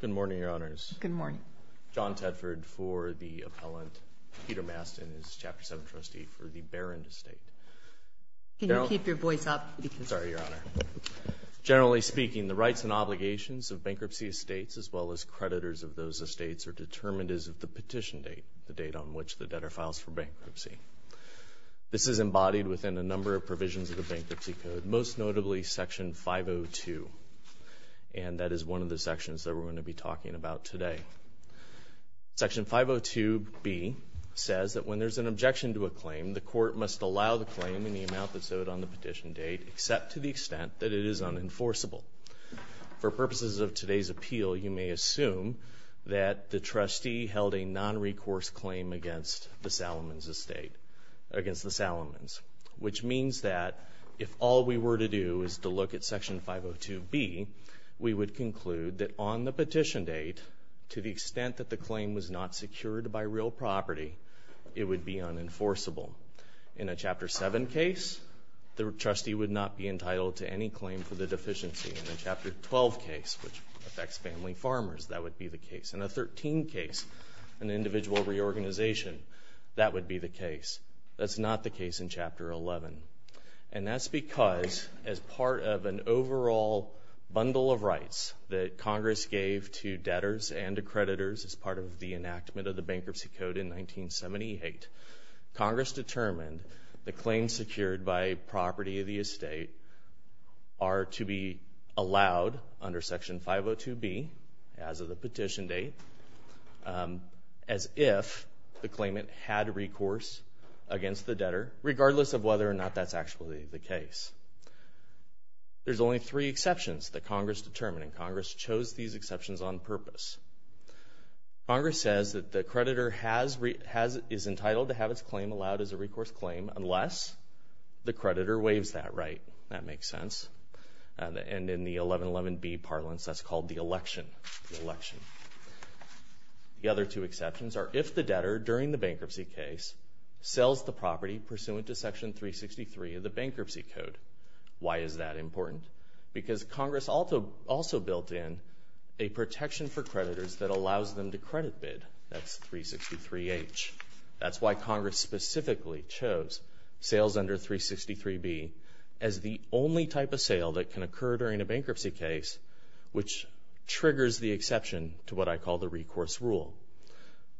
Good morning, Your Honors. Good morning. John Tedford for the appellant. Peter Mastan is Chapter 7 trustee for the Barron Estate. Can you keep your voice up? Sorry, Your Honor. Generally speaking, the rights and obligations of bankruptcy estates as well as creditors of those estates are determined as of the petition date, the date on which the debtor files for bankruptcy. This is embodied within a number of provisions of the Bankruptcy Code, most notably Section 502, and that is one of the sections that we're going to be talking about today. Section 502B says that when there's an objection to a claim, the court must allow the claim in the amount that's owed on the petition date, except to the extent that it is unenforceable. For purposes of today's appeal, you may assume that the trustee held a non-recourse claim against the Salamons' estate, against the Salamons, which means that if all we were to do is to look at Section 502B, we would conclude that on the petition date, to the extent that the claim was not secured by real property, it would be unenforceable. In a Chapter 7 case, the trustee would not be entitled to any claim for the deficiency. In a Chapter 12 case, which affects family farmers, that would be the case. In a 13 case, an individual reorganization, that would be the case. That's not the case in Chapter 11. And that's because, as part of an overall bundle of rights that Congress gave to debtors and to creditors as part of the enactment of the Bankruptcy Code in 1978, Congress determined the claims secured by property of the estate are to be allowed under Section 502B, as of the petition date, as if the claimant had recourse against the debtor, regardless of whether or not that's actually the case. There's only three exceptions that Congress determined, and Congress chose these exceptions on purpose. Congress says that the creditor is entitled to have its claim allowed as a recourse claim unless the creditor waives that right. That makes sense. And in the 1111B parlance, that's called the election. The other two exceptions are if the debtor, during the bankruptcy case, sells the property pursuant to Section 363 of the Bankruptcy Code. Why is that important? Because Congress also built in a protection for creditors that allows them to credit bid. That's 363H. That's why Congress specifically chose sales under 363B as the only type of sale that can occur during a bankruptcy case, which triggers the exception to what I call the recourse rule.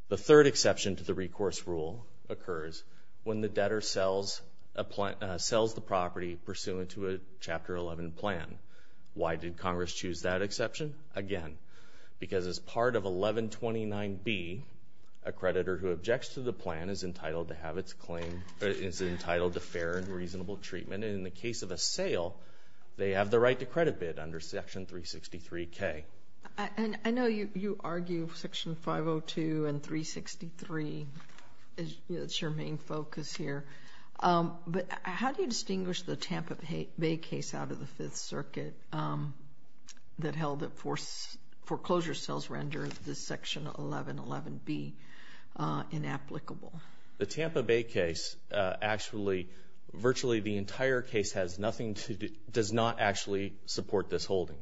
The third exception to the recourse rule occurs when the debtor sells the property pursuant to a Chapter 11 plan. Why did Congress choose that exception? Again, because as part of 1129B, a creditor who objects to the plan is entitled to have its claim, is entitled to fair and reasonable treatment. And in the case of a sale, they have the right to credit bid under Section 363K. I know you argue Section 502 and 363 is your main focus here, but how do you distinguish the Tampa Bay case out of the Fifth Circuit that held that foreclosure sales rendered the Section 1111B inapplicable? The Tampa Bay case, virtually the entire case does not actually support this holding.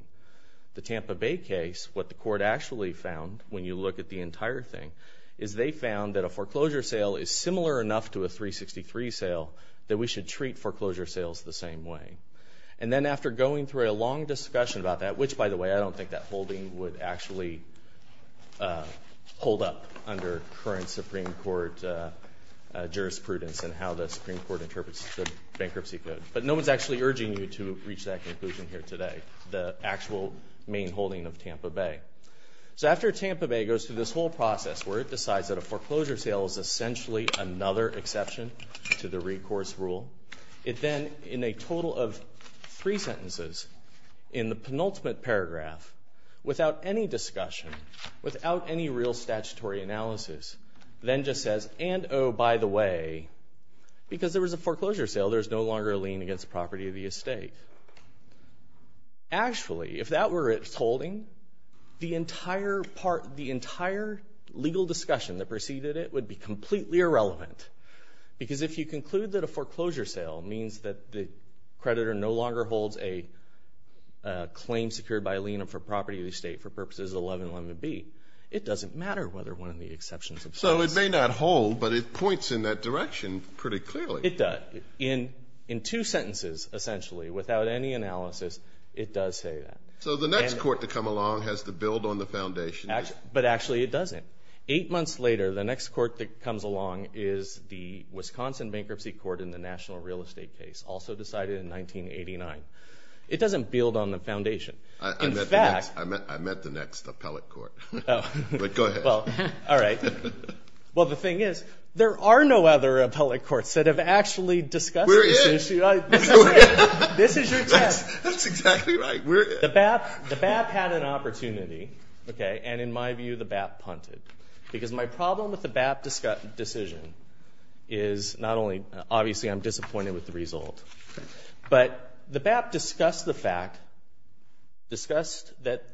The Tampa Bay case, what the court actually found when you look at the entire thing, is they found that a foreclosure sale is similar enough to a 363 sale that we should treat foreclosure sales the same way. And then after going through a long discussion about that, which, by the way, I don't think that holding would actually hold up under current Supreme Court jurisprudence and how the Supreme Court interprets the bankruptcy code, but no one's actually urging you to reach that conclusion here today, the actual main holding of Tampa Bay. So after Tampa Bay goes through this whole process where it decides that a foreclosure sale is essentially another exception to the recourse rule, it then, in a total of three sentences, in the penultimate paragraph, without any discussion, without any real statutory analysis, then just says, and oh, by the way, because there was a foreclosure sale, actually, if that were its holding, the entire legal discussion that preceded it would be completely irrelevant. Because if you conclude that a foreclosure sale means that the creditor no longer holds a claim secured by a lien for property of the estate for purposes of 1111B, it doesn't matter whether one of the exceptions applies. So it may not hold, but it points in that direction pretty clearly. It does. In two sentences, essentially, without any analysis, it does say that. So the next court to come along has to build on the foundation. But actually it doesn't. Eight months later, the next court that comes along is the Wisconsin bankruptcy court in the national real estate case, also decided in 1989. It doesn't build on the foundation. I meant the next appellate court. But go ahead. Well, all right. Well, the thing is, there are no other appellate courts that have actually discussed this issue. We're in. This is your test. That's exactly right. We're in. The BAP had an opportunity, and in my view, the BAP punted. Because my problem with the BAP decision is not only, obviously, I'm disappointed with the result, but the BAP discussed the fact, discussed that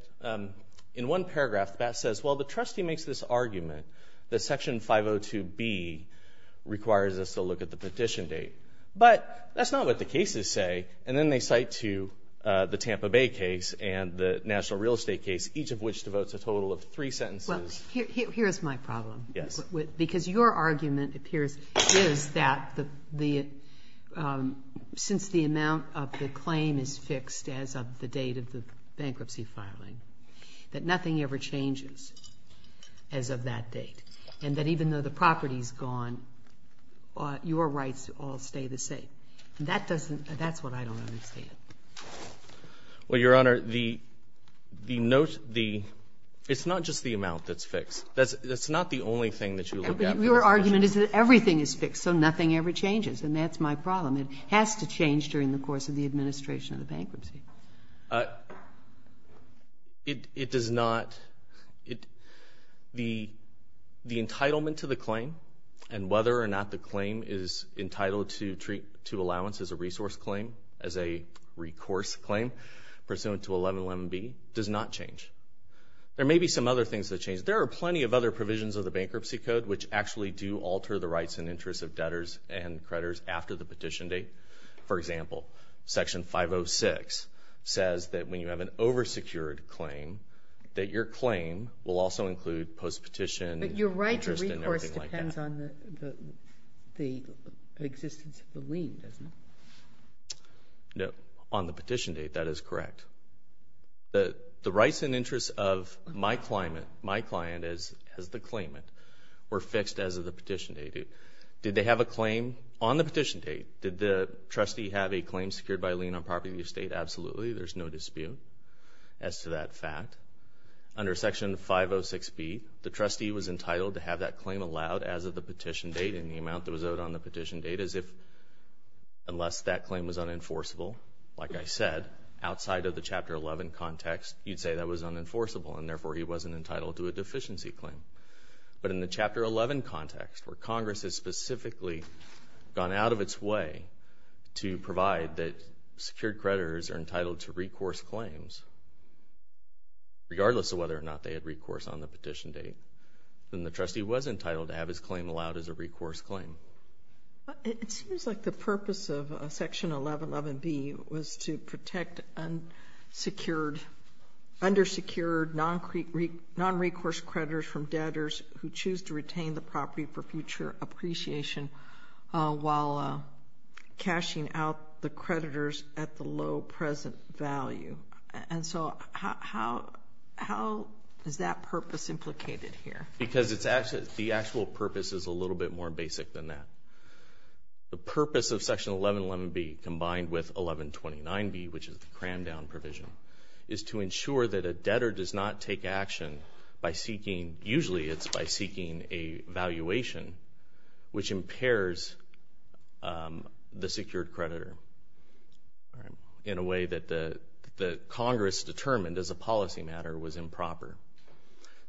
in one paragraph the BAP says, well, the trustee makes this argument that Section 502B requires us to look at the petition date. But that's not what the cases say. And then they cite to the Tampa Bay case and the national real estate case, each of which devotes a total of three sentences. Well, here's my problem. Yes. Because your argument appears is that since the amount of the claim is fixed as of the date of the bankruptcy filing, that nothing ever changes as of that date. And that even though the property is gone, your rights all stay the same. That's what I don't understand. Well, Your Honor, it's not just the amount that's fixed. That's not the only thing that you look at. Your argument is that everything is fixed, so nothing ever changes. And that's my problem. It has to change during the course of the administration of the bankruptcy. It does not. The entitlement to the claim and whether or not the claim is entitled to allowance as a resource claim, as a recourse claim pursuant to 1111B, does not change. There may be some other things that change. There are plenty of other provisions of the Bankruptcy Code which actually do alter the rights and interests of debtors and creditors after the petition date. For example, Section 506 says that when you have an over-secured claim, that your claim will also include post-petition interest and everything like that. But your right to recourse depends on the existence of the lien, doesn't it? No. On the petition date, that is correct. The rights and interests of my client as the claimant were fixed as of the petition date. Did they have a claim on the petition date? Did the trustee have a claim secured by lien on property of the estate? Absolutely. There's no dispute as to that fact. Under Section 506B, the trustee was entitled to have that claim allowed as of the petition date and the amount that was owed on the petition date as if unless that claim was unenforceable, like I said, outside of the Chapter 11 context, you'd say that was unenforceable and therefore he wasn't entitled to a deficiency claim. But in the Chapter 11 context, where Congress has specifically gone out of its way to provide that secured creditors are entitled to recourse claims, regardless of whether or not they had recourse on the petition date, then the trustee was entitled to have his claim allowed as a recourse claim. It seems like the purpose of Section 1111B was to protect unsecured, non-recourse creditors from debtors who choose to retain the property for future appreciation while cashing out the creditors at the low present value. And so how is that purpose implicated here? Because the actual purpose is a little bit more basic than that. The purpose of Section 1111B combined with 1129B, which is the cram-down provision, is to ensure that a debtor does not take action by seeking, usually it's by seeking a valuation which impairs the secured creditor in a way that Congress determined as a policy matter was improper.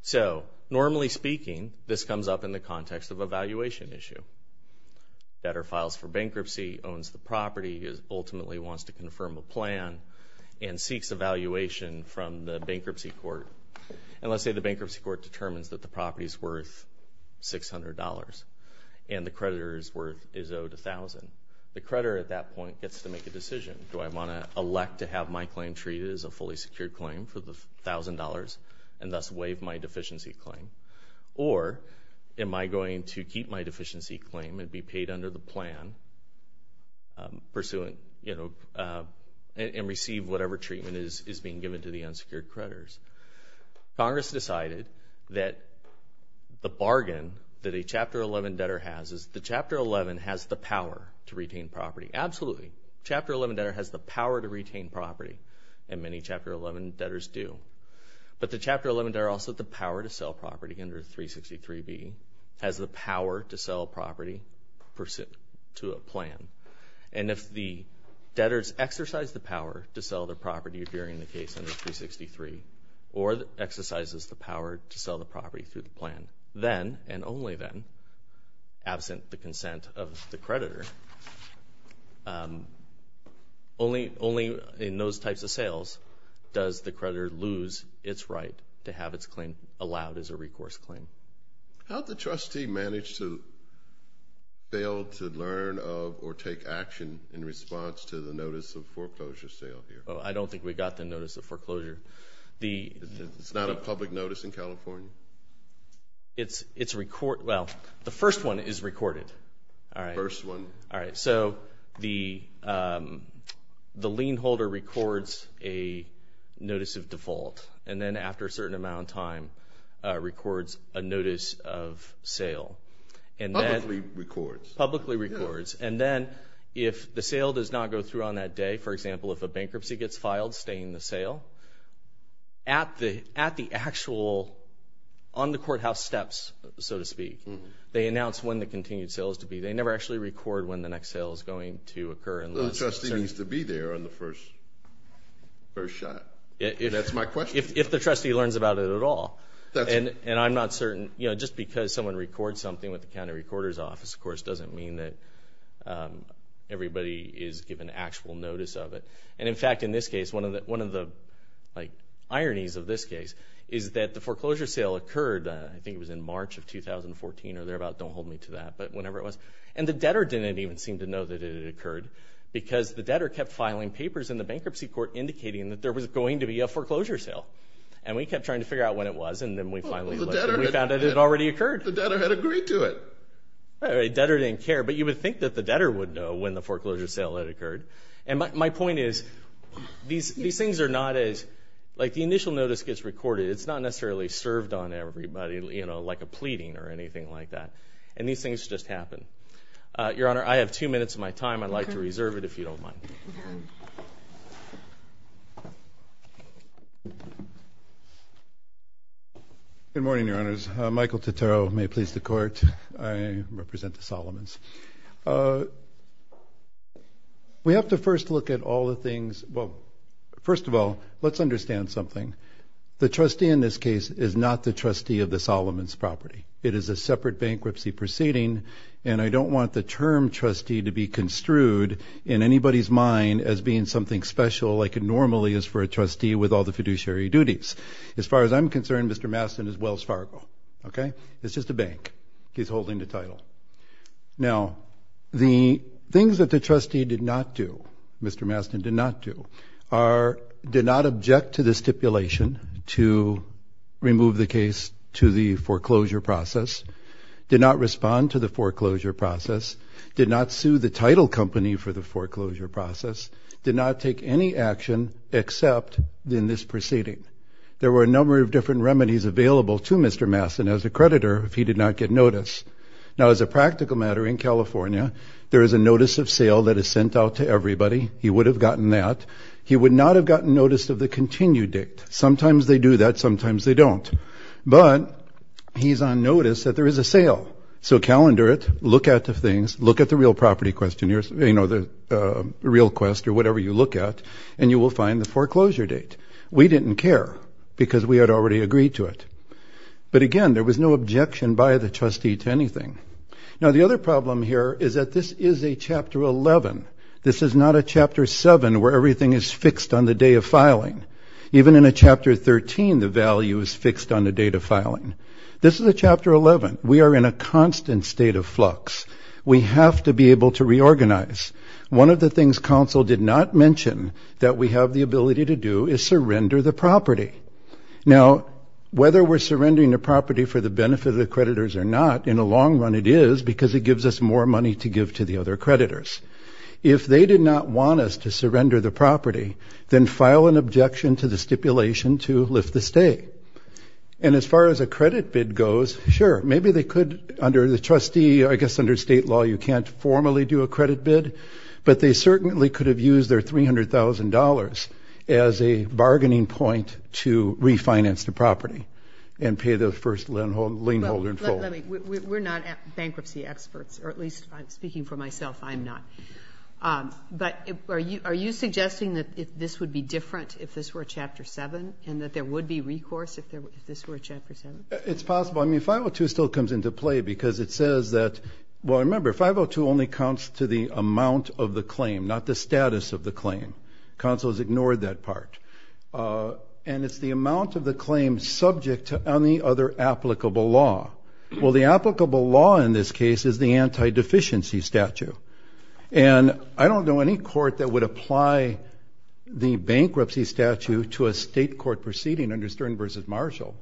So normally speaking, this comes up in the context of a valuation issue. Debtor files for bankruptcy, owns the property, ultimately wants to confirm a plan, and seeks a valuation from the bankruptcy court. And let's say the bankruptcy court determines that the property is worth $600 and the creditor is owed $1,000. Do I want to elect to have my claim treated as a fully secured claim for the $1,000 and thus waive my deficiency claim? Or am I going to keep my deficiency claim and be paid under the plan and receive whatever treatment is being given to the unsecured creditors? Congress decided that the bargain that a Chapter 11 debtor has is the Chapter 11 has the power to retain property, absolutely. Chapter 11 debtor has the power to retain property, and many Chapter 11 debtors do. But the Chapter 11 debtor also has the power to sell property under 363B, has the power to sell property pursuant to a plan. And if the debtors exercise the power to sell their property during the case under 363, or exercises the power to sell the property through the plan, then and only then, absent the consent of the creditor, only in those types of sales does the creditor lose its right to have its claim allowed as a recourse claim. How did the trustee manage to fail to learn of or take action in response to the notice of foreclosure sale here? I don't think we got the notice of foreclosure. It's not a public notice in California? It's a record. Well, the first one is recorded. First one. So the lien holder records a notice of default, and then after a certain amount of time records a notice of sale. Publicly records. Publicly records. And then if the sale does not go through on that day, for example, if a bankruptcy gets filed staying the sale, at the actual on the courthouse steps, so to speak, they announce when the continued sale is to be. They never actually record when the next sale is going to occur. So the trustee needs to be there on the first shot? That's my question. If the trustee learns about it at all. And I'm not certain. Just because someone records something with the county recorder's office, of course, doesn't mean that everybody is given actual notice of it. And, in fact, in this case, one of the ironies of this case is that the foreclosure sale occurred, I think it was in March of 2014 or thereabout. Don't hold me to that. But whenever it was. And the debtor didn't even seem to know that it had occurred, because the debtor kept filing papers in the bankruptcy court indicating that there was going to be a foreclosure sale. And we kept trying to figure out when it was, and then we finally looked and we found that it had already occurred. The debtor had agreed to it. The debtor didn't care, but you would think that the debtor would know when the foreclosure sale had occurred. And my point is, these things are not as, like, the initial notice gets recorded. It's not necessarily served on everybody, you know, like a pleading or anything like that. And these things just happen. Your Honor, I have two minutes of my time. I'd like to reserve it if you don't mind. Good morning, Your Honors. Michael Totoro, may it please the Court. I represent the Solomons. We have to first look at all the things. Well, first of all, let's understand something. The trustee in this case is not the trustee of the Solomons property. It is a separate bankruptcy proceeding, and I don't want the term trustee to be construed in anybody's mind as being something special like it normally is for a trustee with all the fiduciary duties. As far as I'm concerned, Mr. Mastin is Wells Fargo. Okay? It's just a bank. He's holding the title. Now, the things that the trustee did not do, Mr. Mastin did not do, are did not object to the stipulation to remove the case to the foreclosure process, did not respond to the foreclosure process, did not sue the title company for the foreclosure process, did not take any action except in this proceeding. There were a number of different remedies available to Mr. Mastin as a creditor if he did not get notice. Now, as a practical matter, in California, there is a notice of sale that is sent out to everybody. He would have gotten that. He would not have gotten notice of the continued date. Sometimes they do that. Sometimes they don't. But he's on notice that there is a sale. So calendar it, look at the things, look at the real property questionnaires, you know, the real quest or whatever you look at, and you will find the foreclosure date. We didn't care because we had already agreed to it. But, again, there was no objection by the trustee to anything. Now, the other problem here is that this is a Chapter 11. This is not a Chapter 7 where everything is fixed on the day of filing. Even in a Chapter 13, the value is fixed on the date of filing. This is a Chapter 11. We are in a constant state of flux. We have to be able to reorganize. One of the things counsel did not mention that we have the ability to do is surrender the property. Now, whether we're surrendering the property for the benefit of the creditors or not, in the long run it is because it gives us more money to give to the other creditors. If they did not want us to surrender the property, then file an objection to the stipulation to lift the stay. And as far as a credit bid goes, sure, maybe they could under the trustee, I guess under state law you can't formally do a credit bid, but they certainly could have used their $300,000 as a bargaining point to refinance the property and pay the first lien holder in full. We're not bankruptcy experts, or at least speaking for myself, I'm not. But are you suggesting that this would be different if this were a Chapter 7 and that there would be recourse if this were a Chapter 7? It's possible. I mean, 502 still comes into play because it says that, well, remember, 502 only counts to the amount of the claim, not the status of the claim. Counsel has ignored that part. And it's the amount of the claim subject to any other applicable law. Well, the applicable law in this case is the anti-deficiency statute. And I don't know any court that would apply the bankruptcy statute to a state court proceeding under Stern v. Marshall.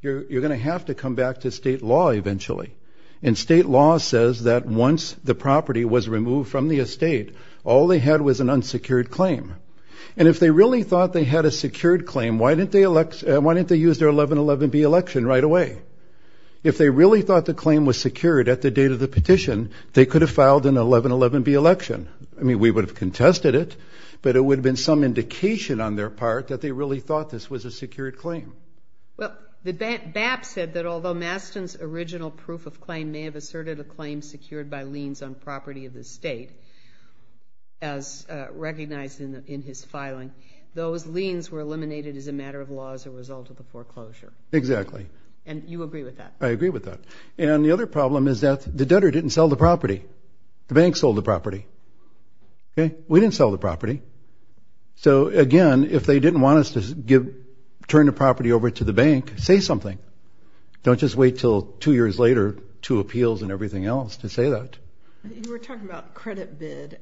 You're going to have to come back to state law eventually. And state law says that once the property was removed from the estate, all they had was an unsecured claim. And if they really thought they had a secured claim, why didn't they use their 1111B election right away? If they really thought the claim was secured at the date of the petition, they could have filed an 1111B election. I mean, we would have contested it, but it would have been some indication on their part that they really thought this was a secured claim. Well, BAP said that although Mastin's original proof of claim may have asserted a claim secured by liens on property of the state, as recognized in his filing, those liens were eliminated as a matter of law as a result of the foreclosure. Exactly. And you agree with that? I agree with that. And the other problem is that the debtor didn't sell the property. The bank sold the property. Okay? We didn't sell the property. So, again, if they didn't want us to turn the property over to the bank, say something. Don't just wait until two years later, two appeals and everything else, to say that. You were talking about credit bid.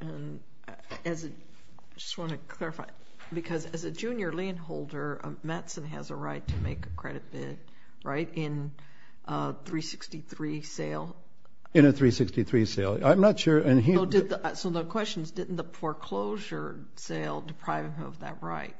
I just want to clarify, because as a junior lien holder, Mastin has a right to make a credit bid, right, in a 363 sale? In a 363 sale. I'm not sure. So the question is, didn't the foreclosure sale deprive him of that right?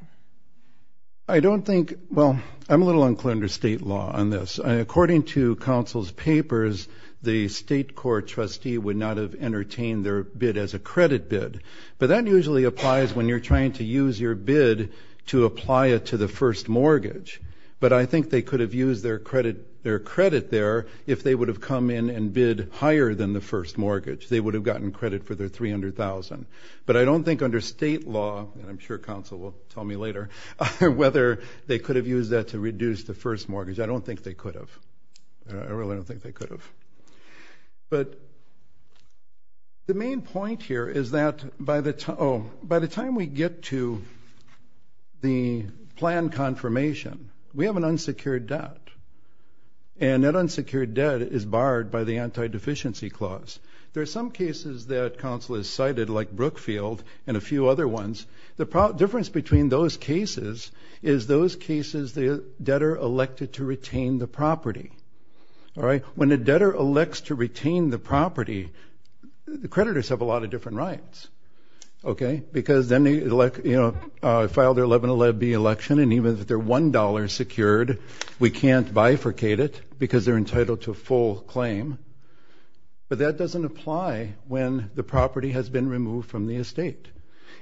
I don't think – well, I'm a little unclear under state law on this. According to counsel's papers, the state court trustee would not have entertained their bid as a credit bid. But that usually applies when you're trying to use your bid to apply it to the first mortgage. But I think they could have used their credit there if they would have come in and bid higher than the first mortgage. They would have gotten credit for their $300,000. But I don't think under state law, and I'm sure counsel will tell me later, whether they could have used that to reduce the first mortgage. I don't think they could have. I really don't think they could have. But the main point here is that by the time we get to the plan confirmation, we have an unsecured debt. And that unsecured debt is barred by the anti-deficiency clause. There are some cases that counsel has cited, like Brookfield and a few other ones. The difference between those cases is those cases the debtor elected to retain the property. When a debtor elects to retain the property, the creditors have a lot of different rights. Because then they file their 1111B election, and even if they're $1 secured, we can't bifurcate it because they're entitled to a full claim. But that doesn't apply when the property has been removed from the estate.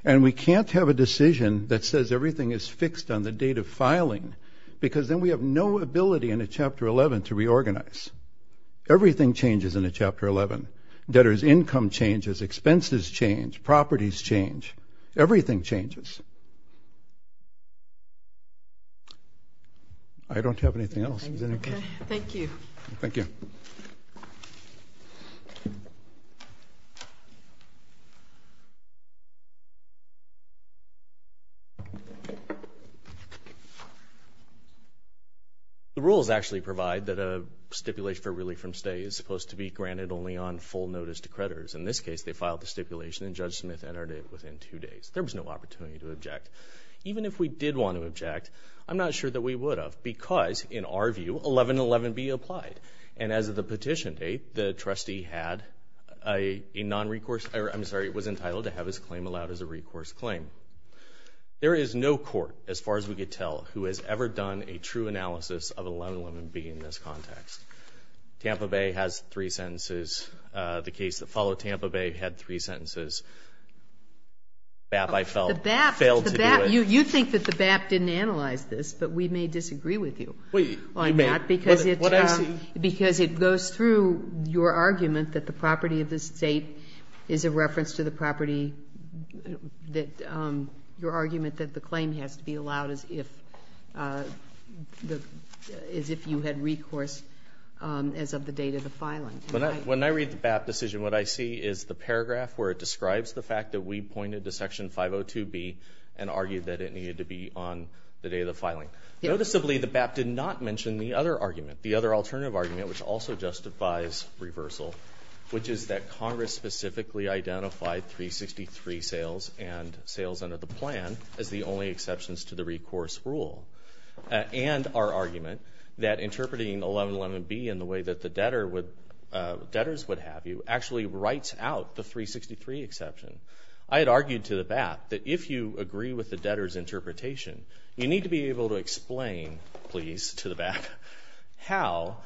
And we can't have a decision that says everything is fixed on the date of filing because then we have no ability in a Chapter 11 to reorganize. Everything changes in a Chapter 11. Debtors' income changes, expenses change, properties change. Everything changes. I don't have anything else. Thank you. The rules actually provide that a stipulation for relief from stay is supposed to be granted only on full notice to creditors. In this case, they filed the stipulation, and Judge Smith entered it within two days. There was no opportunity to object. Even if we did want to object, I'm not sure that we would have because, in our view, 1111B applied. And as of the petition date, the trustee had a non-recourse or, I'm sorry, was entitled to have his claim allowed as a recourse claim. There is no court, as far as we could tell, who has ever done a true analysis of 1111B in this context. Tampa Bay has three sentences. The case that followed Tampa Bay had three sentences. BAP, I felt, failed to do it. You think that the BAP didn't analyze this, but we may disagree with you. Why not? Because it goes through your argument that the property of the state is a reference to the property that your argument that the claim has to be allowed as if you had recourse as of the date of the filing. When I read the BAP decision, what I see is the paragraph where it describes the fact that we pointed to Section 502B and argued that it needed to be on the day of the filing. Noticeably, the BAP did not mention the other argument, the other alternative argument, which also justifies reversal, which is that Congress specifically identified 363 sales and sales under the plan as the only exceptions to the recourse rule, and our argument that interpreting 1111B in the way that the debtors would have you actually writes out the 363 exception. I had argued to the BAP that if you agree with the debtors' interpretation, you need to be able to explain, please, to the BAP, how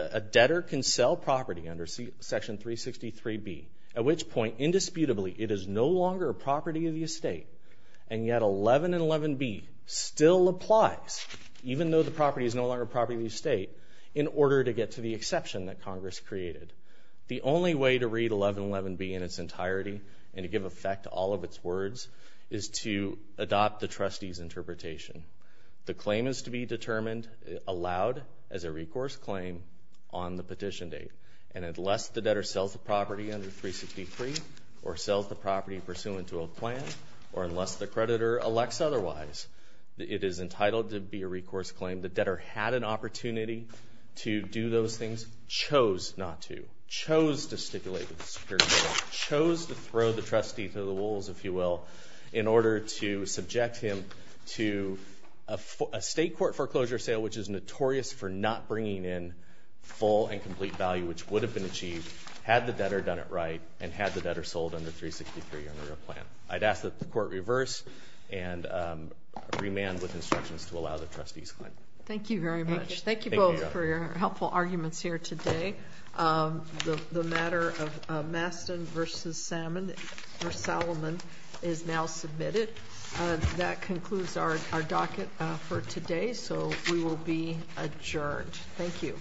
a debtor can sell property under Section 363B, at which point, indisputably, it is no longer a property of the estate, and yet 1111B still applies, even though the property is no longer a property of the estate, in order to get to the exception that Congress created. The only way to read 1111B in its entirety and to give effect to all of its words is to adopt the trustee's interpretation. The claim is to be determined aloud as a recourse claim on the petition date, and unless the debtor sells the property under 363 or sells the property pursuant to a plan, or unless the creditor elects otherwise, it is entitled to be a recourse claim. The debtor had an opportunity to do those things, chose not to, chose to stipulate with the Superior Court, chose to throw the trustee through the wolves, if you will, in order to subject him to a state court foreclosure sale, which is notorious for not bringing in full and complete value, which would have been achieved had the debtor done it right and had the debtor sold under 363 under a plan. I'd ask that the court reverse and remand with instructions to allow the trustee's claim. Thank you very much. Thank you both for your helpful arguments here today. The matter of Mastin v. Salomon is now submitted. That concludes our docket for today, so we will be adjourned. Thank you.